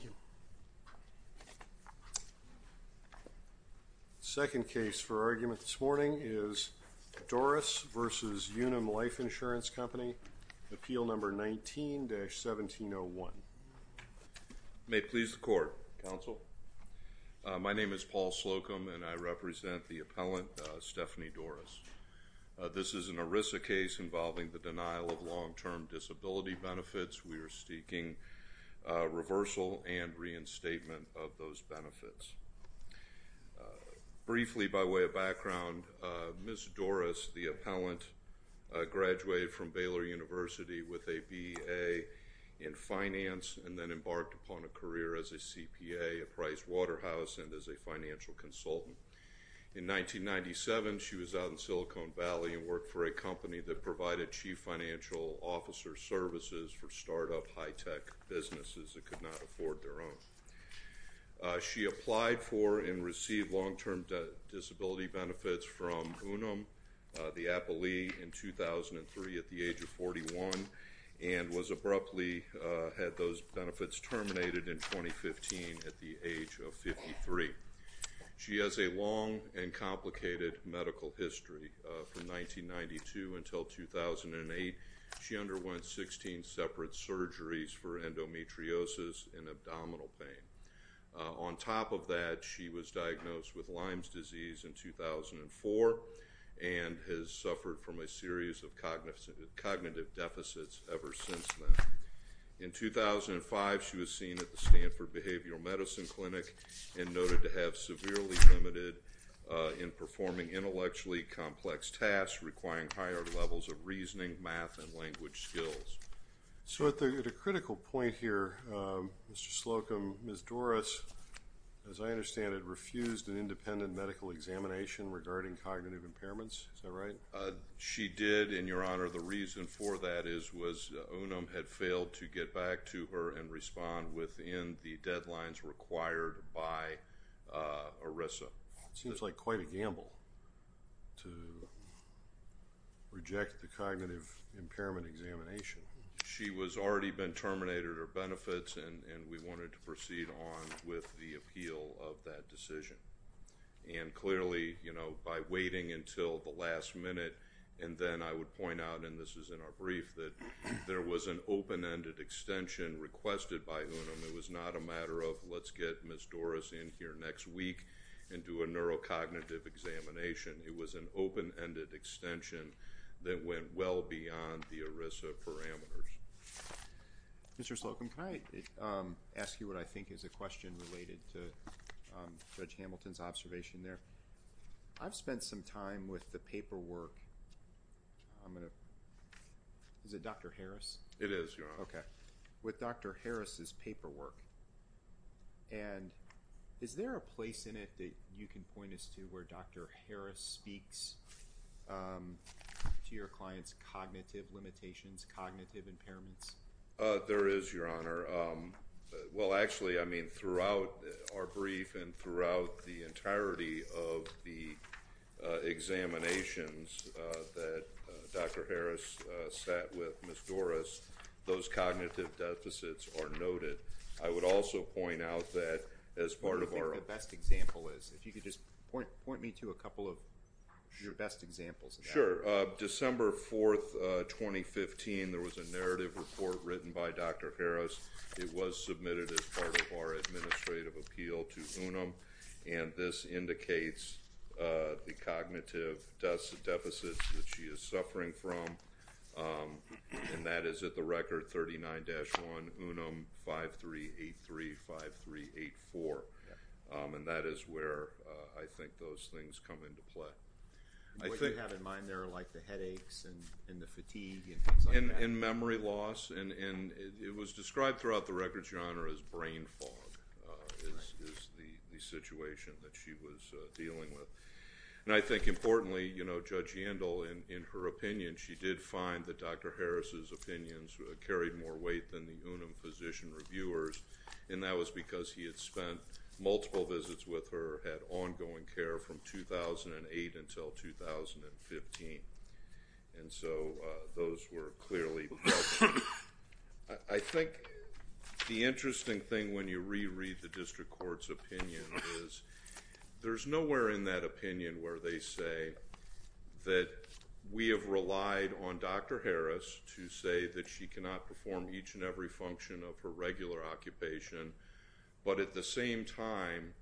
Appeal No. 19-1701 May it please the Court, Counsel. My name is Paul Slocum and I represent the appellant Stephanie Dorris. This is an ERISA case involving the denial of long-term disability benefits. We are seeking reversal and reinstatement of those benefits. Briefly, by way of background, Ms. Dorris, the appellant, graduated from Baylor University with a B.A. in finance and then embarked upon a career as a CPA, a Price Waterhouse, and as a financial consultant. In 1997, she was out in Silicon Valley and founded a company that provided chief financial officer services for start-up high-tech businesses that could not afford their own. She applied for and received long-term disability benefits from Unum, the appellee, in 2003 at the age of 41 and was abruptly, had those benefits until 2008. She underwent 16 separate surgeries for endometriosis and abdominal pain. On top of that, she was diagnosed with Lyme's disease in 2004 and has suffered from a series of cognitive deficits ever since then. In 2005, she was seen at the Stanford Behavioral Medicine Clinic and noted to have severely limited in performing intellectually complex tasks requiring higher levels of reasoning, math, and language skills. So at a critical point here, Mr. Slocum, Ms. Dorris, as I understand it, refused an independent medical examination regarding cognitive impairments, is that right? She did, and Your Honor, the reason for that is Unum had failed to get back to her and respond within the deadlines required by ERISA. Seems like quite a gamble to reject the cognitive impairment examination. She was already been terminated her benefits and we wanted to proceed on with the appeal of that decision. And clearly, you know, by waiting until the last minute and then I would point out, and this is in our brief, that there was an open-ended extension requested by Unum. It was not a matter of let's get Ms. Dorris in here next week and do a neurocognitive examination. It was an open-ended extension that went well beyond the ERISA parameters. Mr. Slocum, can I ask you what I think is a question related to Judge Hamilton's observation there? I've spent some time with the paperwork. Is it Dr. Harris? It is, Your Honor. Okay. With Dr. Harris's paperwork, and is there a place in it that you can point us to where Dr. Harris speaks to your client's cognitive limitations, cognitive impairments? There is, Your Honor. Well, actually, I mean, throughout our brief and throughout the entirety of the examinations that Dr. Harris sat with Ms. Dorris, those cognitive deficits are noted. I would also point out that as part of our... What do you think the best example is? If you could just point me to a couple of your best examples of that. Sure. December 4th, 2015, there was a narrative report written by Dr. Harris. It was submitted as part of our administrative appeal to Unum, and this indicates the cognitive deficits that she is suffering from, and that is at the record 39-1 UNUM 53835384, and that is where I think those things come into play. What do you have in mind there, like the headaches and the fatigue and things like that? And memory loss, and it was described throughout the record, Your Honor, as brain fog. Right. Is the situation that she was dealing with. And I think importantly, you know, Judge Yandel, in her opinion, she did find that Dr. Harris's opinions carried more weight than the Unum physician reviewers, and that was because he had spent multiple visits with her, had ongoing care from 2008 until 2015, and so those were clearly helpful. I think the interesting thing when you reread the district court's opinion is there's nowhere in that opinion where they say that we have relied on Dr. Harris to say that she cannot perform each and every function of her regular occupation, but at the same time,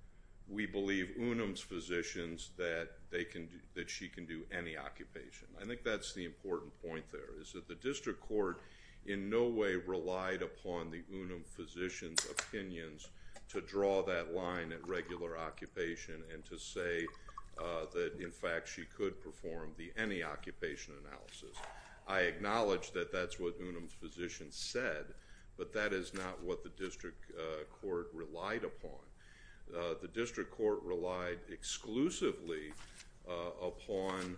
we believe Unum's physicians that they can do, that she can do any occupation. I think that's the important point there, is that the district court in no way relied upon the Unum physician's opinions to draw that line at regular occupation and to say that, in fact, she could perform the any occupation analysis. I acknowledge that that's what Unum's physician said, but that is not what the district court relied upon. The district court relied exclusively upon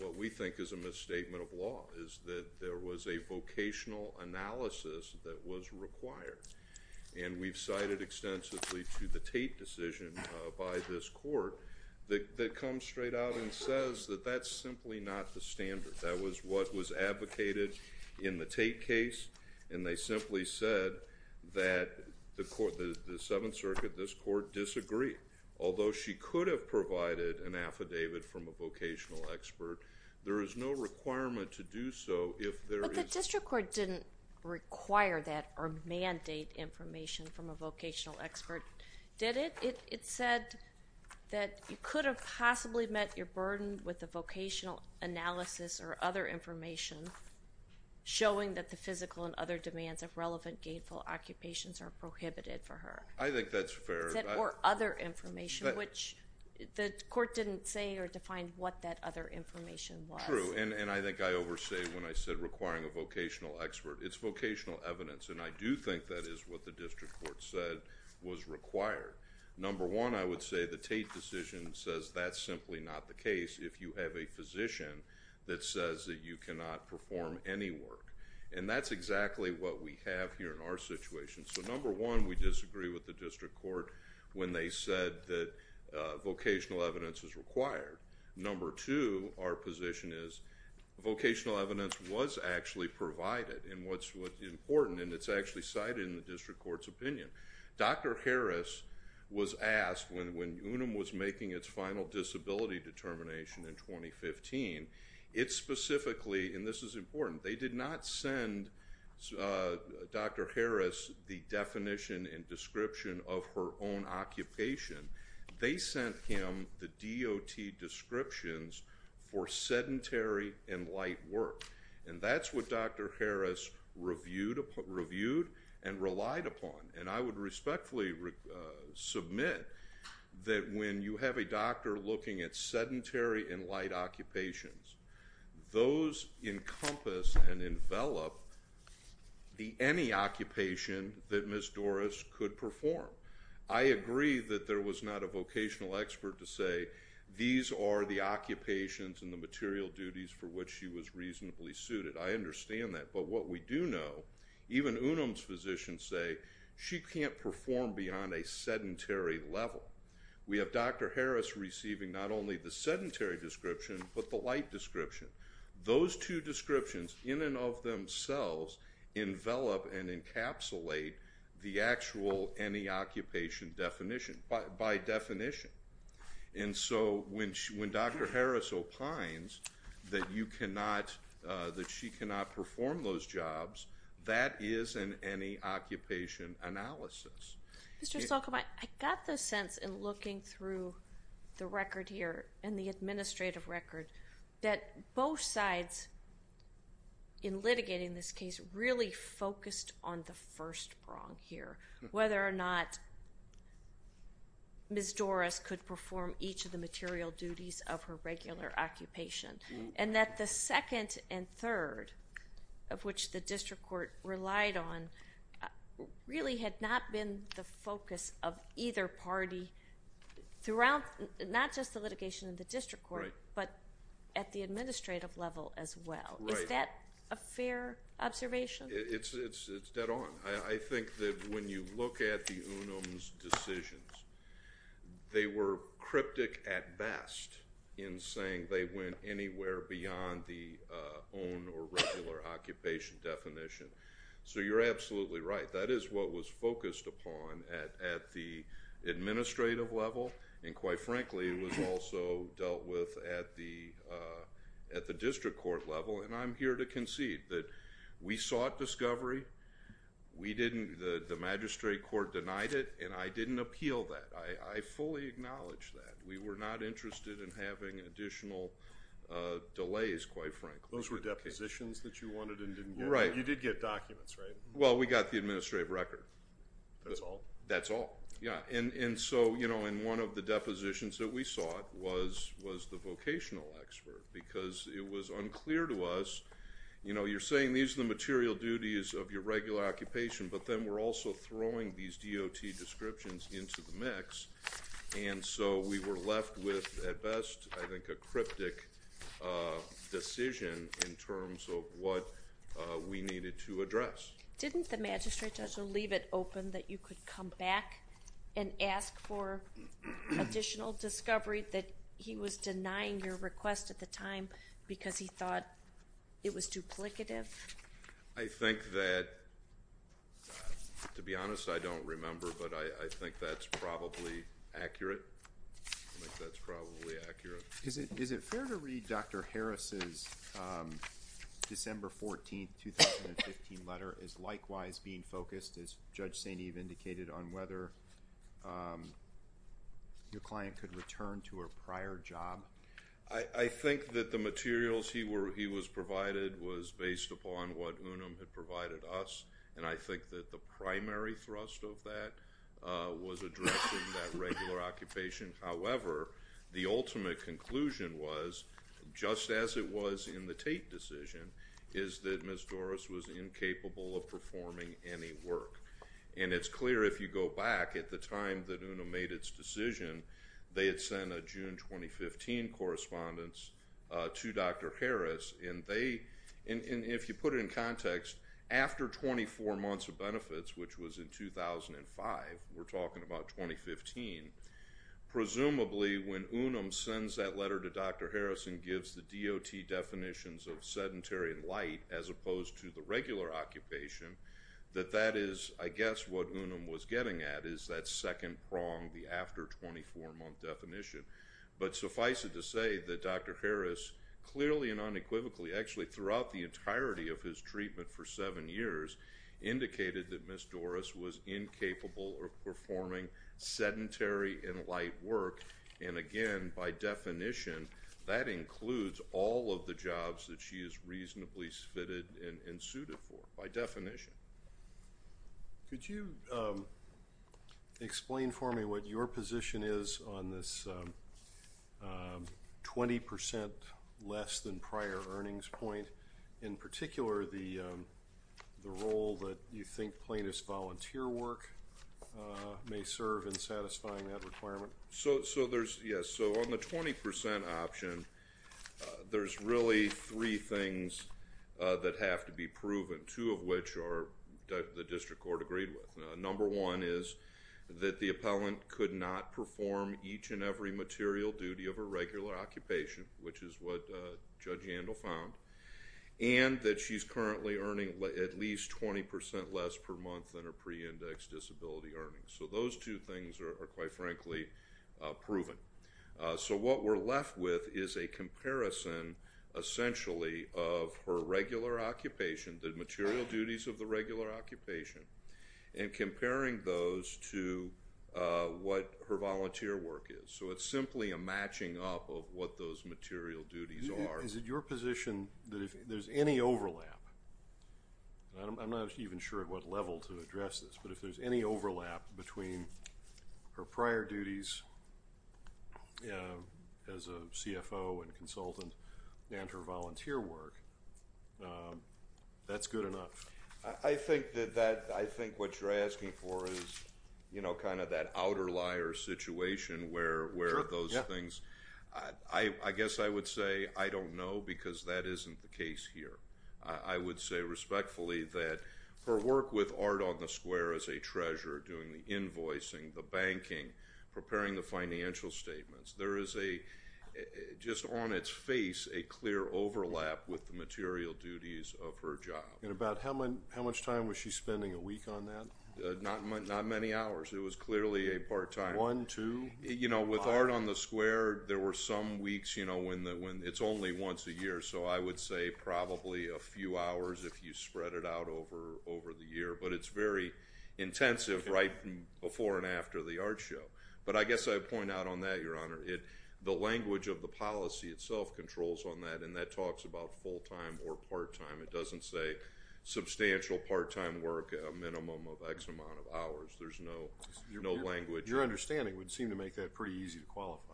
what we think is a misstatement of law, is that there was a vocational analysis that was required, and we've cited extensively to the Tate decision by this court that comes straight out and says that that's simply not the standard. That was what was advocated in the Tate case, and they simply said that the court, the Seventh Circuit, although she could have provided an affidavit from a vocational expert, there is no requirement to do so if there is... But the district court didn't require that or mandate information from a vocational expert, did it? It said that you could have possibly met your burden with the vocational analysis or other information showing that the physical and other demands of relevant gainful occupations are prohibited for her. I think that's fair. Or other information, which the court didn't say or define what that other information was. True, and I think I overstate when I said requiring a vocational expert. It's vocational evidence, and I do think that is what the district court said was required. Number one, I would say the Tate decision says that's simply not the case if you have a physician that says that you cannot perform any work, and that's exactly what we have here in our when they said that vocational evidence is required. Number two, our position is vocational evidence was actually provided, and what's important, and it's actually cited in the district court's opinion. Dr. Harris was asked when UNUM was making its final disability determination in 2015, it specifically, and this is important, they did not send Dr. Harris the definition and description of her own occupation. They sent him the DOT descriptions for sedentary and light work, and that's what Dr. Harris reviewed and relied upon, and I would respectfully submit that when you have a doctor looking at sedentary and light occupations, those encompass and envelop any occupation that Ms. Doris could perform. I agree that there was not a vocational expert to say these are the occupations and the material duties for which she was reasonably suited. I understand that, but what we do know, even UNUM's physicians say she can't perform beyond a sedentary level. We have Dr. Harris receiving not only the description, those two descriptions in and of themselves envelop and encapsulate the actual any occupation definition, by definition, and so when Dr. Harris opines that you cannot, that she cannot perform those jobs, that is an any occupation analysis. Mr. Stolkamp, I got the sense in looking through the record here and the administrative record that both sides, in litigating this case, really focused on the first prong here, whether or not Ms. Doris could perform each of the material duties of her regular occupation, and that the second and third, of which the district court relied on, really had not been the focus of either party throughout, not just the litigation of the district court, but at the administrative level as well. Is that a fair observation? It's dead on. I think that when you look at the UNUM's decisions, they were cryptic at best in saying they went anywhere beyond the own or regular occupation definition, so you're absolutely right. That is what was focused upon at the administrative level, and quite frankly, it was also dealt with at the district court level, and I'm here to concede that we sought discovery, we didn't, the magistrate court denied it, and I didn't appeal that. I fully acknowledge that. We were not interested in having additional delays, quite frankly. Those were depositions that you wanted and didn't get? Right. You did get documents, right? Well, we got the administrative record. That's all? That's all, yeah. One of the depositions that we sought was the vocational expert, because it was unclear to us, you're saying these are the material duties of your regular occupation, but then we're also throwing these DOT descriptions into the mix, and so we were left with, at the time, a cryptic decision in terms of what we needed to address. Didn't the magistrate judge leave it open that you could come back and ask for additional discovery, that he was denying your request at the time because he thought it was duplicative? I think that, to be honest, I don't remember, but I think that's probably accurate. I think that's probably accurate. Is it fair to read Dr. Harris's December 14, 2015 letter as likewise being focused, as Judge St. Eve indicated, on whether your client could return to a prior job? I think that the materials he was provided was based upon what UNUM had provided us, and I think that the primary thrust of that was addressing that regular occupation. However, the ultimate conclusion was, just as it was in the Tate decision, is that Ms. Doris was incapable of performing any work. And it's clear, if you go back, at the time that UNUM made its decision, they had sent a June 2015 correspondence to Dr. Harris, and if you put it in context, after 24 months of benefits, which was in 2005, we're talking about 2015, presumably when UNUM sends that letter to Dr. Harris and gives the DOT definitions of sedentary and light, as opposed to the regular occupation, that that is, I guess, what UNUM was getting at, is that second prong, the after-24-month definition. But suffice it to say that Dr. Harris, clearly and unequivocally, actually throughout the entirety of his treatment for seven years, indicated that Ms. Doris was incapable of performing sedentary and light work, and again, by definition, that includes all of the jobs that she is reasonably fitted and suited for, by definition. Could you explain for me what your position is on this 20 percent less than prior earnings point, in particular, the role that you think plaintiff's volunteer work may serve in satisfying that requirement? So there's, yes, so on the 20 percent option, there's really three things that have to be proven, two of which the district court agreed with. Number one is that the appellant could not perform each and every material duty of a regular occupation, which is what she's currently doing, and that she's currently earning at least 20 percent less per month than her pre-indexed disability earnings. So those two things are, quite frankly, proven. So what we're left with is a comparison, essentially, of her regular occupation, the material duties of the regular occupation, and comparing those to what her volunteer work is. So it's simply a matching up of what those material duties are. Is it your position that if there's any overlap, and I'm not even sure at what level to address this, but if there's any overlap between her prior duties as a CFO and consultant and her volunteer work, that's good enough? I think that that, I think what you're asking for is, you know, kind of that outer liar situation where those things, I guess I would say, I don't know, because that isn't the case here. I would say respectfully that her work with Art on the Square as a treasurer, doing the invoicing, the banking, preparing the financial statements, there is a, just on its face, a clear overlap with the material duties of her job. And about how much time was she spending a week on that? Not many hours. It was clearly a part-time. One, two, five? You know, with Art on the Square, there were some weeks, you know, when it's only once a year, so I would say probably a few hours if you spread it out over the year, but it's very intensive right before and after the art show. But I guess I'd point out on that, Your Honor, the language of the policy itself controls on that, and that talks about full-time or part-time. It doesn't say substantial part-time work, a minimum of X amount of hours. There's no language. Your understanding would seem to make that pretty easy to qualify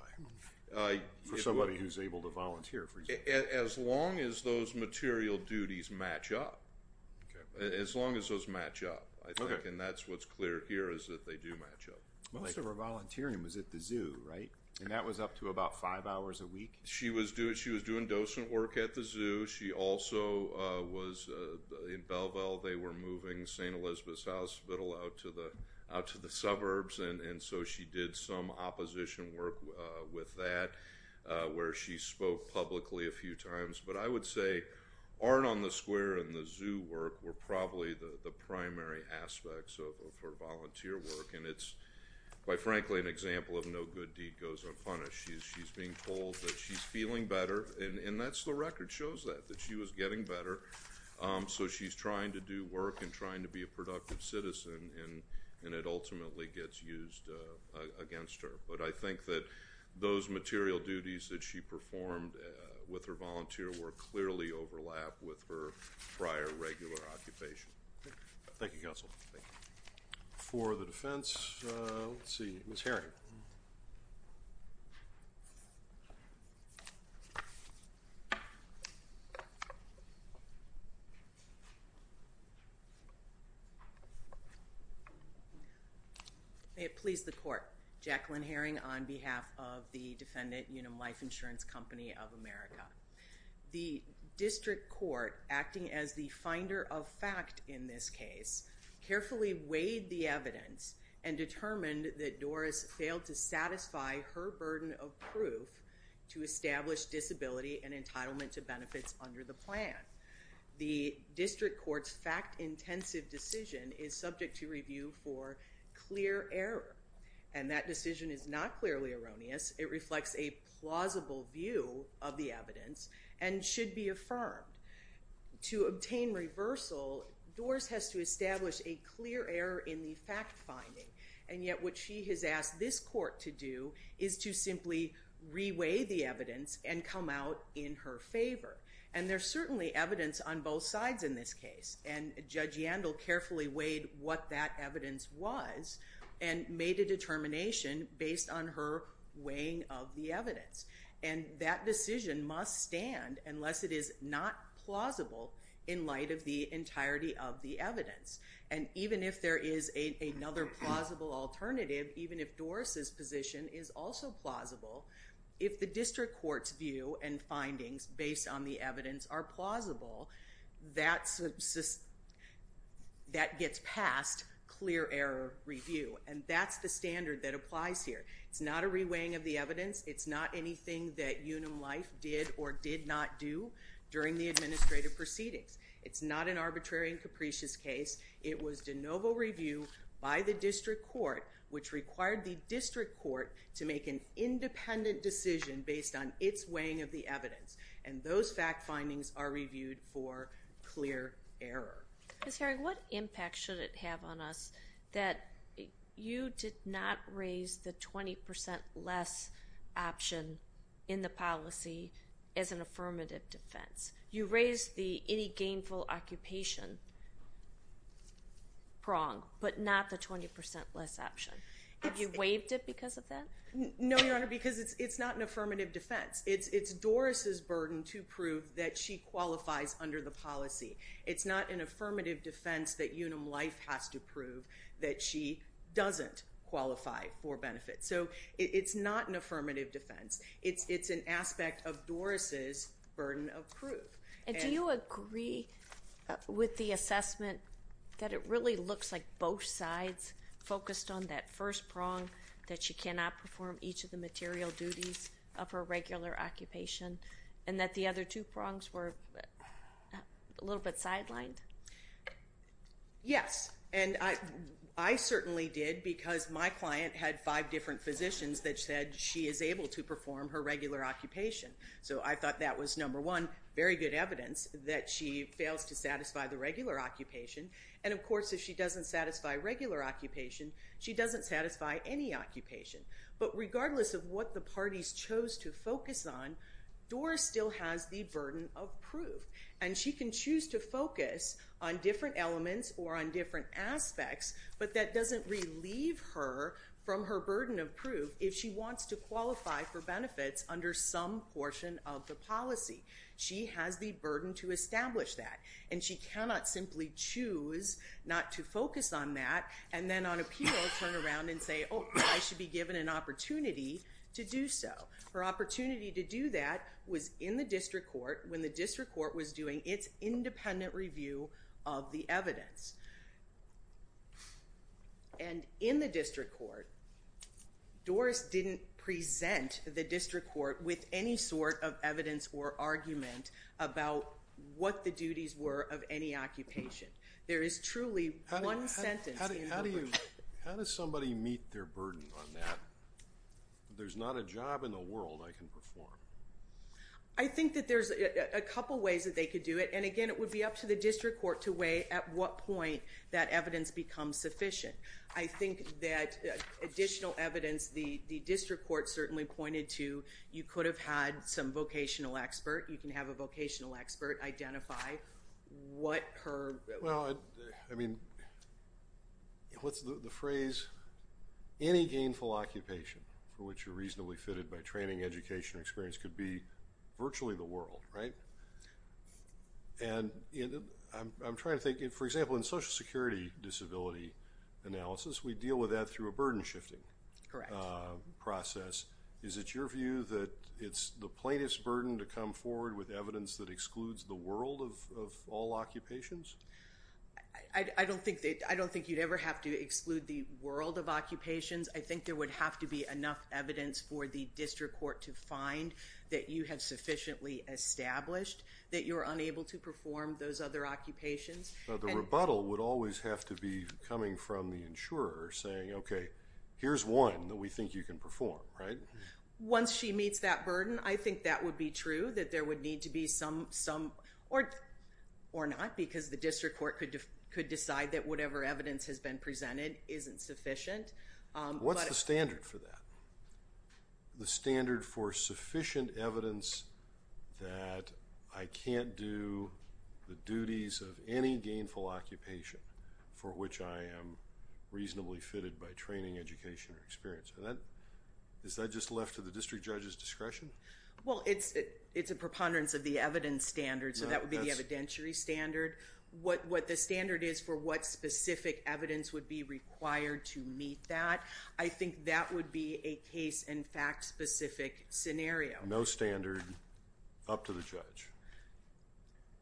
for somebody who's able to volunteer, for example. As long as those material duties match up. As long as those match up, I think, and that's what's clear here is that they do match up. Most of her volunteering was at the zoo, right? And that was up to about five hours a week? She was doing docent work at the zoo. She also was, in Belleville, they were moving St. Elizabeth's Hospital out to the suburbs, and so she did some opposition work with that, where she spoke publicly a few times. But I would say Art on the Square and the zoo work were probably the primary aspects of her volunteer work, and it's, quite frankly, an example of no good deed goes unpunished. She's being told that she's feeling better, and that's the record shows that, that she was getting better. So she's trying to do work and trying to be a productive citizen, and it ultimately gets used against her. But I think that those material duties that she performed with her volunteer work clearly overlap with her prior regular occupation. Thank you, Counsel. Thank you. For the defense, let's see, Ms. Herring. May it please the Court. Jacqueline Herring on behalf of the defendant, Unum Life Insurance Company of America. The district court, acting as the finder of fact in this case, carefully weighed the evidence and determined that Doris failed to satisfy her burden of proof to establish disability and entitlement to benefits under the plan. The district court's fact-intensive decision is subject to review for clear error, and that decision is not clearly erroneous. It reflects a plausible view of the evidence and should be affirmed. To obtain reversal, Doris has to establish a clear error in the fact-finding, and yet what she has asked this court to do is to simply re-weigh the evidence and come out in her favor. And there's certainly evidence on both sides in this case, and Judge Yandel carefully weighed what that evidence was and made a determination based on her weighing of the evidence. And that decision must stand unless it is not plausible in light of the entirety of the evidence. And even if there is another plausible alternative, even if Doris's position is also plausible, if the district court's view and findings based on the evidence are plausible, that gets past clear error review. And that's the standard that applies here. It's not a re-weighing of the evidence. It's not anything that Unum Life did or did not do during the administrative proceedings. It's not an arbitrary and capricious case. It was de novo review by the district court, which required the district court to make an independent decision based on its weighing of the evidence. And those fact findings are reviewed for clear error. Ms. Herring, what impact should it have on us that you did not raise the 20 percent less option in the policy as an affirmative defense? You raised the any gainful occupation prong, but not the 20 percent less option. Have you waived it because of that? No, Your Honor, because it's not an affirmative defense. It's Doris's burden to prove that she qualifies under the policy. It's not an affirmative defense that Unum Life has to do. It's not an affirmative defense. It's an aspect of Doris's burden of proof. And do you agree with the assessment that it really looks like both sides focused on that first prong that she cannot perform each of the material duties of her regular occupation and that the other two prongs were a little bit sidelined? Yes. And I certainly did because my client had five different physicians that said she is able to perform her regular occupation. So I thought that was, number one, very good evidence that she fails to satisfy the regular occupation. And, of course, if she doesn't satisfy regular occupation, she doesn't satisfy any occupation. But regardless of what the parties chose to focus on, Doris still has the burden of proof. And she can choose to focus on different elements or on different aspects, but that doesn't relieve her from her burden of proof if she wants to qualify for benefits under some portion of the policy. She has the burden to establish that. And she cannot simply choose not to focus on that and then on appeal turn around and say, oh, I should be given an opportunity to do so. Her opportunity to do that was in the district court when the district court was doing its work. Doris didn't present the district court with any sort of evidence or argument about what the duties were of any occupation. There is truly one sentence in the ruling. How does somebody meet their burden on that? There's not a job in the world I can perform. I think that there's a couple ways that they could do it. And, again, it would be up to the district court to weigh at what point that evidence becomes sufficient. I think that additional evidence, the district court certainly pointed to, you could have had some vocational expert. You can have a vocational expert identify what her... Well, I mean, what's the phrase? Any gainful occupation for which you're reasonably fitted by training, education, or experience could be virtually the world, right? And I'm trying to think, for example, in Social Security disability analysis, we deal with that through a burden shifting process. Correct. Is it your view that it's the plaintiff's burden to come forward with evidence that excludes the world of all occupations? I don't think you'd ever have to exclude the world of occupations. I think there would have to be enough evidence for the district court to find that you have sufficiently established that you're unable to perform those other occupations. Now, the rebuttal would always have to be coming from the insurer saying, okay, here's one that we think you can perform, right? Once she meets that burden, I think that would be true that there would need to be some... or not because the district court could decide that whatever evidence has been presented isn't sufficient. What's the standard for that? The standard for sufficient evidence that I can't do the duties of any gainful occupation for which I am reasonably fitted by training, education, or experience. Is that just left to the district judge's discretion? Well, it's a preponderance of the evidence standard so that would be the evidentiary standard. What the standard is for what specific evidence would be required to meet that, I think that would be a case and fact specific scenario. No standard up to the judge?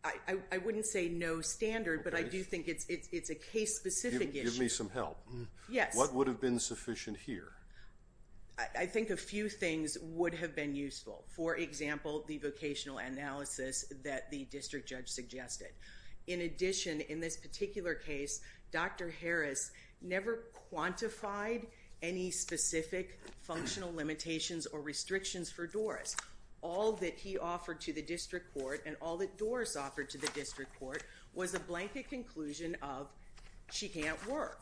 I wouldn't say no standard, but I do think it's a case specific issue. Give me some help. Yes. What would have been sufficient here? I think a few things would have been useful. For example, the vocational analysis that the district judge suggested. In addition, in this particular case, Dr. Harris never quantified any specific functional limitations or restrictions for Doris. All that he offered to the district court and all that Doris offered to the district court was a blanket conclusion of she can't work.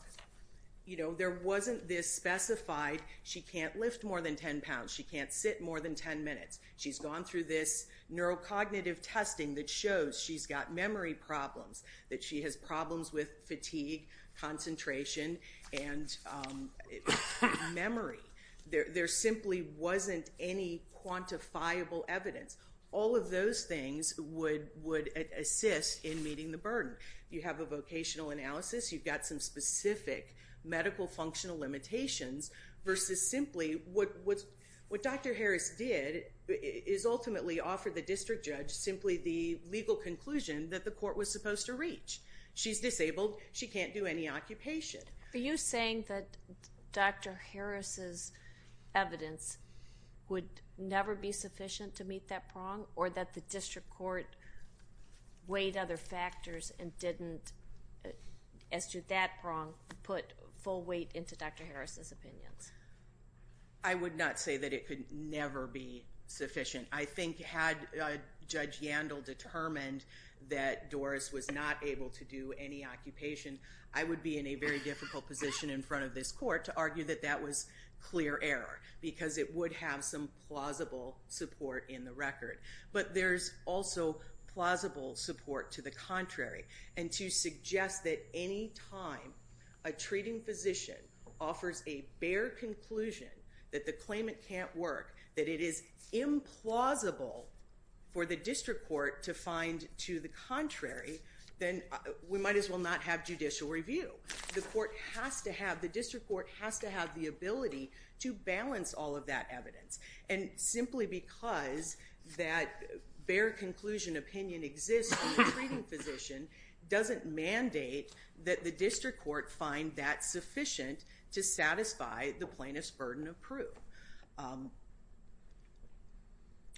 You know, there wasn't this specified she can't lift more than 10 pounds, she can't sit more than 10 minutes. She's gone through this neurocognitive testing that shows she's got memory problems, that she has problems with fatigue, concentration, and memory. There simply wasn't any quantifiable evidence. All of those things would assist in meeting the burden. You have a vocational analysis, you've got some specific medical functional limitations versus simply what Dr. Harris did is ultimately offer the district judge simply the legal conclusion that the she's disabled, she can't do any occupation. Are you saying that Dr. Harris's evidence would never be sufficient to meet that prong or that the district court weighed other factors and didn't, as to that prong, put full weight into Dr. Harris's opinions? I would not say that it could never be sufficient. I think had Judge Yandel determined that Doris was not able to do any occupation, I would be in a very difficult position in front of this court to argue that that was clear error because it would have some plausible support in the record. But there's also plausible support to the contrary and to suggest that any time a treating physician offers a bare conclusion that the claimant can't work, that it is implausible for the district court to find to the contrary, then we might as well not have judicial review. The court has to have, the district court has to have the ability to balance all of that evidence. And simply because that bare conclusion opinion exists on the treating physician doesn't mandate that the district court find that sufficient to satisfy the plaintiff's burden of proof.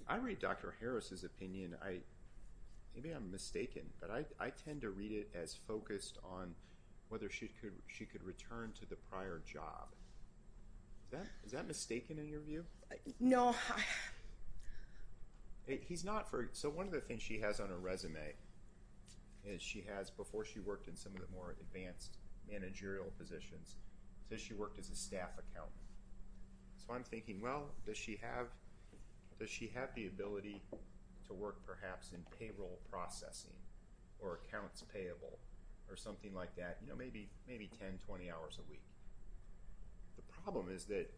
I read Dr. Harris's opinion, maybe I'm mistaken, but I tend to read it as focused on whether she could return to the prior job. Is that mistaken in your view? No. He's not, so one of the things she has on her resume is she has, before she worked in some of the more advanced managerial positions, she worked as a staff accountant. So I'm thinking, well, does she have the ability to work perhaps in payroll processing or accounts payable or something like that, you know, maybe 10, 20 hours a week. The problem is that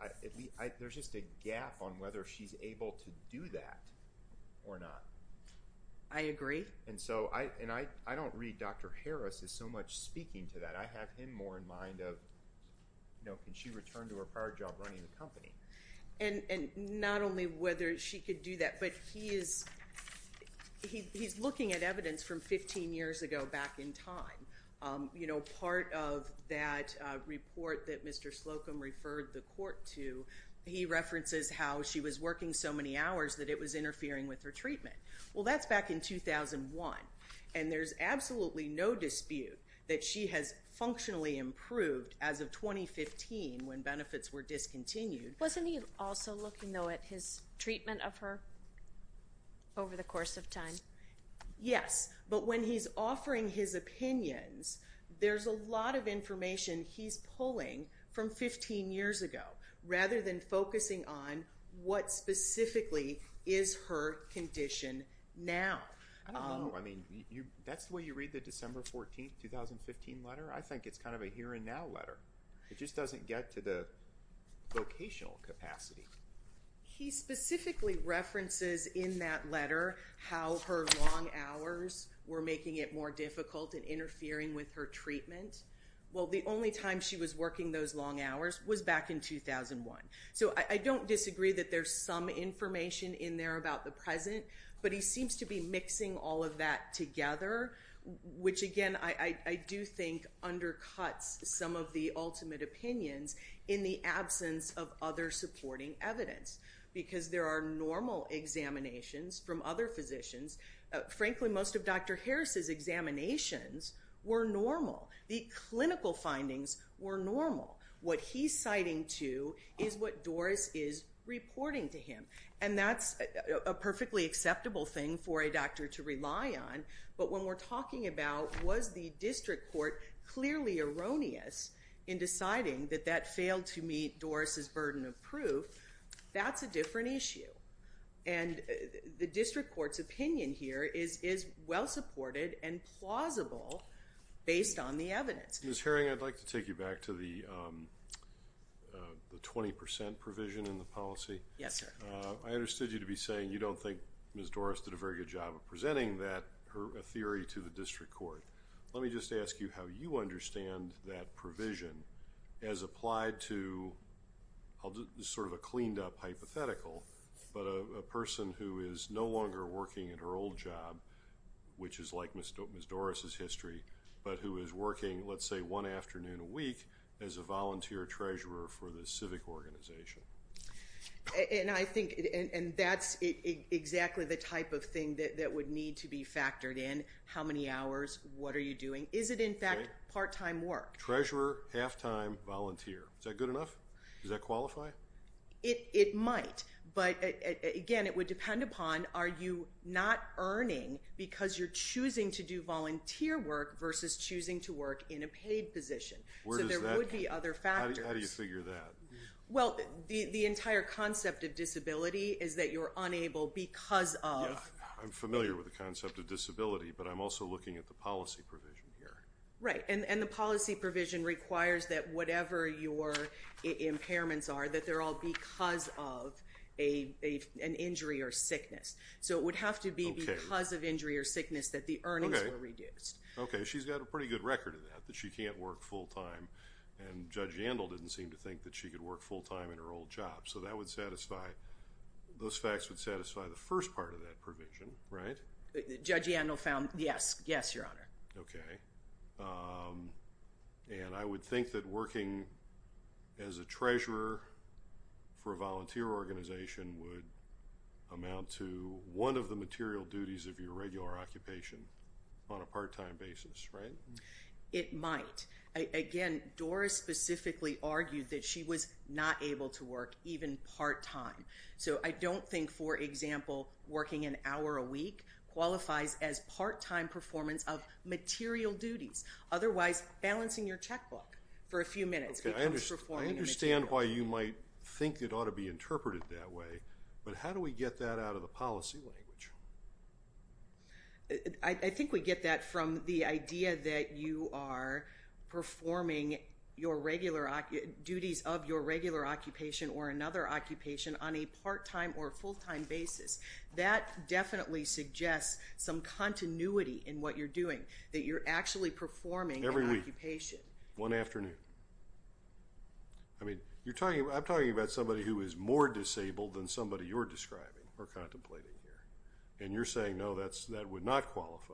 there's just a gap on whether she's able to do that or not. I agree. And so I don't read Dr. Harris as so much speaking to that. I have him more in mind of, you know, can she return to her prior job running the company? And not only whether she could do that, but he's looking at evidence from 15 years ago back in time. You know, part of that report that Mr. Slocum referred the court to, he references how she was working so many hours that it was interfering with her treatment. Well, that's back in 2001, and there's absolutely no dispute that she has functionally improved as of 2015 when benefits were discontinued. Wasn't he also looking, though, at his treatment of her over the course of time? Yes, but when he's offering his opinions, there's a lot of information he's pulling from 15 years ago, rather than focusing on what specifically is her condition now. I don't know. I mean, that's the way you read the December 14, 2015 letter. I think it's kind of a here and now letter. It just doesn't get to the vocational capacity. He specifically references in that letter how her long hours were making it more difficult and interfering with her treatment. Well, the only time she was working those long hours was back in 2001. So I don't disagree that there's some information in there about the present, but he seems to be mixing all of that together, which, again, I do think undercuts some of the ultimate opinions in the absence of other supporting evidence, because there are normal examinations from other physicians. Frankly, most of Dr. Harris's examinations were normal. The clinical findings were normal. What he's citing, too, is what Doris is reporting to him, and that's a perfectly acceptable thing for a doctor to rely on, but when we're talking about was the district court clearly erroneous in deciding that that failed to be a burden of proof, that's a different issue. The district court's opinion here is well-supported and plausible based on the evidence. Ms. Herring, I'd like to take you back to the 20% provision in the policy. Yes, sir. I understood you to be saying you don't think Ms. Doris did a very good job of presenting that theory to the district court. Let me just ask you how you understand that provision as applied to sort of a cleaned-up hypothetical, but a person who is no longer working at her old job, which is like Ms. Doris' history, but who is working, let's say, one afternoon a week as a volunteer treasurer for the civic organization. I think that's exactly the type of thing that would need to be factored in, how many hours, what are you doing. Is it, in fact, part-time work? Treasurer, half-time, volunteer. Is that good enough? Does that qualify? It might, but, again, it would depend upon are you not earning because you're choosing to do volunteer work versus choosing to work in a paid position, so there would be other factors. How do you figure that? Well, the entire concept of disability is that you're unable because of... Yeah, I'm familiar with the concept of disability, but I'm also looking at the policy provision here. Right, and the policy provision requires that whatever your impairments are, that they're all because of an injury or sickness, so it would have to be because of injury or sickness that the earnings were reduced. Okay, she's got a pretty good record of that, that she can't work full-time, and Judge Yandel didn't seem to think that she could work full-time in her old job, so that would satisfy, those facts would satisfy the first part of that provision, right? Judge Yandel found, yes, yes, Your Honor. Okay, and I would think that working as a treasurer for a volunteer organization would amount to one of the material duties of your regular occupation on a part-time basis, right? It might, again, Doris specifically argued that she was not able to work even part-time, so I don't think, for example, working an hour a week qualifies as part-time performance of material duties, otherwise, balancing your checkbook for a few minutes becomes performing a material duty. Okay, I understand why you might think it ought to be interpreted that way, but how do we get that out of the policy language? I think we get that from the idea that you are performing duties of your regular occupation or another occupation on a part-time or full-time basis. That definitely suggests some continuity in what you're doing, that you're actually performing an occupation. Every week? One afternoon? I mean, you're talking, I'm talking about somebody who is more disabled than somebody you're describing or contemplating here, and you're saying, no, that would not qualify.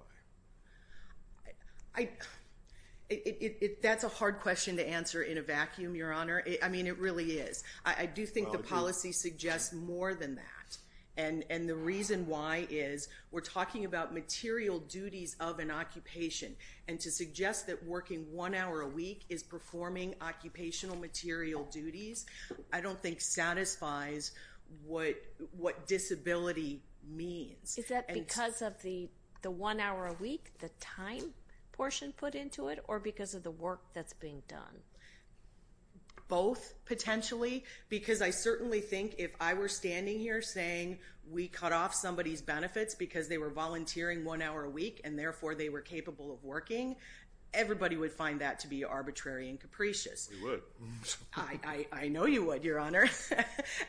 That's a hard question to answer in a vacuum, Your Honor, I mean, it really is. I do think the policy suggests more than that, and the reason why is we're talking about material duties of an occupation, and to suggest that working one hour a week is performing occupational material duties, I don't think satisfies what disability means. Is that because of the one hour a week, the time portion put into it, or because of the work that's being done? Both, potentially, because I certainly think if I were standing here saying we cut off somebody's benefits because they were volunteering one hour a week, and therefore they were capable of working, everybody would find that to be arbitrary and capricious. We would. I know you would, Your Honor,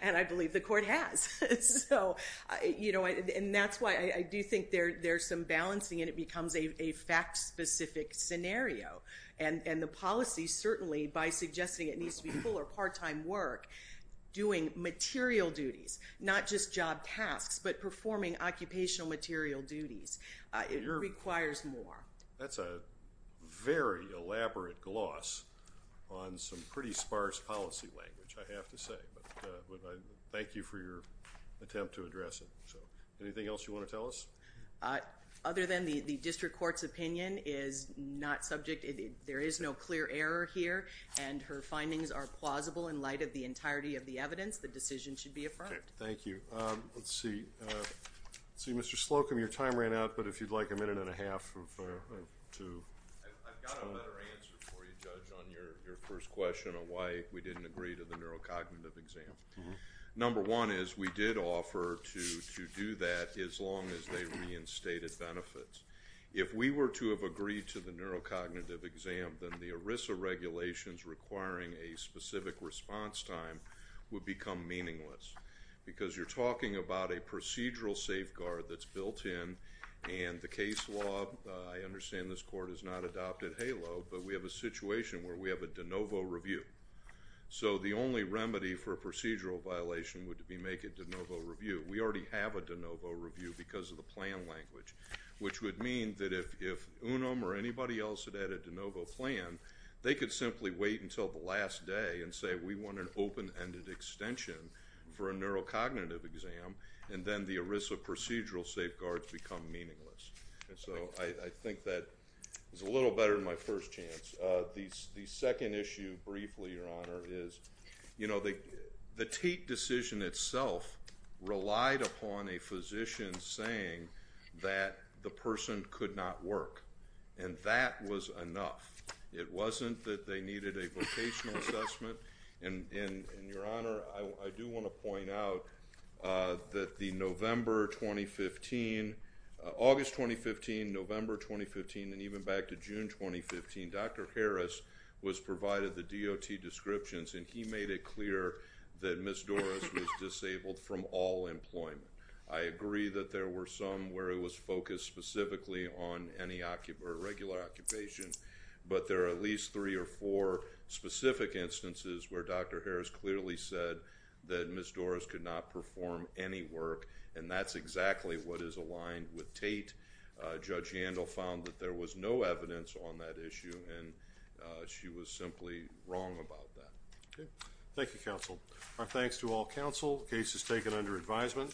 and I believe the court has. And that's why I do think there's some balancing, and it becomes a fact-specific scenario, and the policy, certainly, by suggesting it needs to be full or part-time work, doing material duties, not just job tasks, but performing occupational material duties, it requires more. That's a very elaborate gloss on some pretty sparse policy language, I have to say, but I thank you for your attempt to address it, so anything else you want to tell us? Other than the district court's opinion is not subject, there is no clear error here, and her findings are plausible in light of the entirety of the evidence, the decision should be affirmed. Thank you. Let's see. Let's see, Mr. Slocum, your time ran out, but if you'd like a minute and a half to... I've got a better answer for you, Judge, on your first question on why we didn't agree to the neurocognitive exam. Number one is we did offer to do that as long as they reinstated benefits. If we were to have agreed to the neurocognitive exam, then the ERISA regulations requiring a specific response time would become meaningless, because you're talking about a procedural safeguard that's built in, and the case law, I understand this court has not adopted HALO, but we have a situation where we have a de novo review. So the only remedy for a procedural violation would be make a de novo review. We already have a de novo review because of the plan language, which would mean that if Unum or anybody else had had a de novo plan, they could simply wait until the last day and say, we want an open-ended extension for a neurocognitive exam, and then the ERISA procedural safeguards become meaningless. So I think that is a little better than my first chance. The second issue, briefly, Your Honor, is the Tate decision itself relied upon a physician saying that the person could not work, and that was enough. It wasn't that they needed a vocational assessment, and Your Honor, I do want to point out that the November 2015, August 2015, November 2015, and even back to June 2015, Dr. Harris was provided the DOT descriptions, and he made it clear that Ms. Doris was disabled from all employment. I agree that there were some where it was focused specifically on any regular occupation, but there are at least three or four specific instances where Dr. Harris clearly said that and that's exactly what is aligned with Tate. Judge Handel found that there was no evidence on that issue, and she was simply wrong about that. Okay. Thank you, counsel. Our thanks to all counsel. The case is taken under advisement.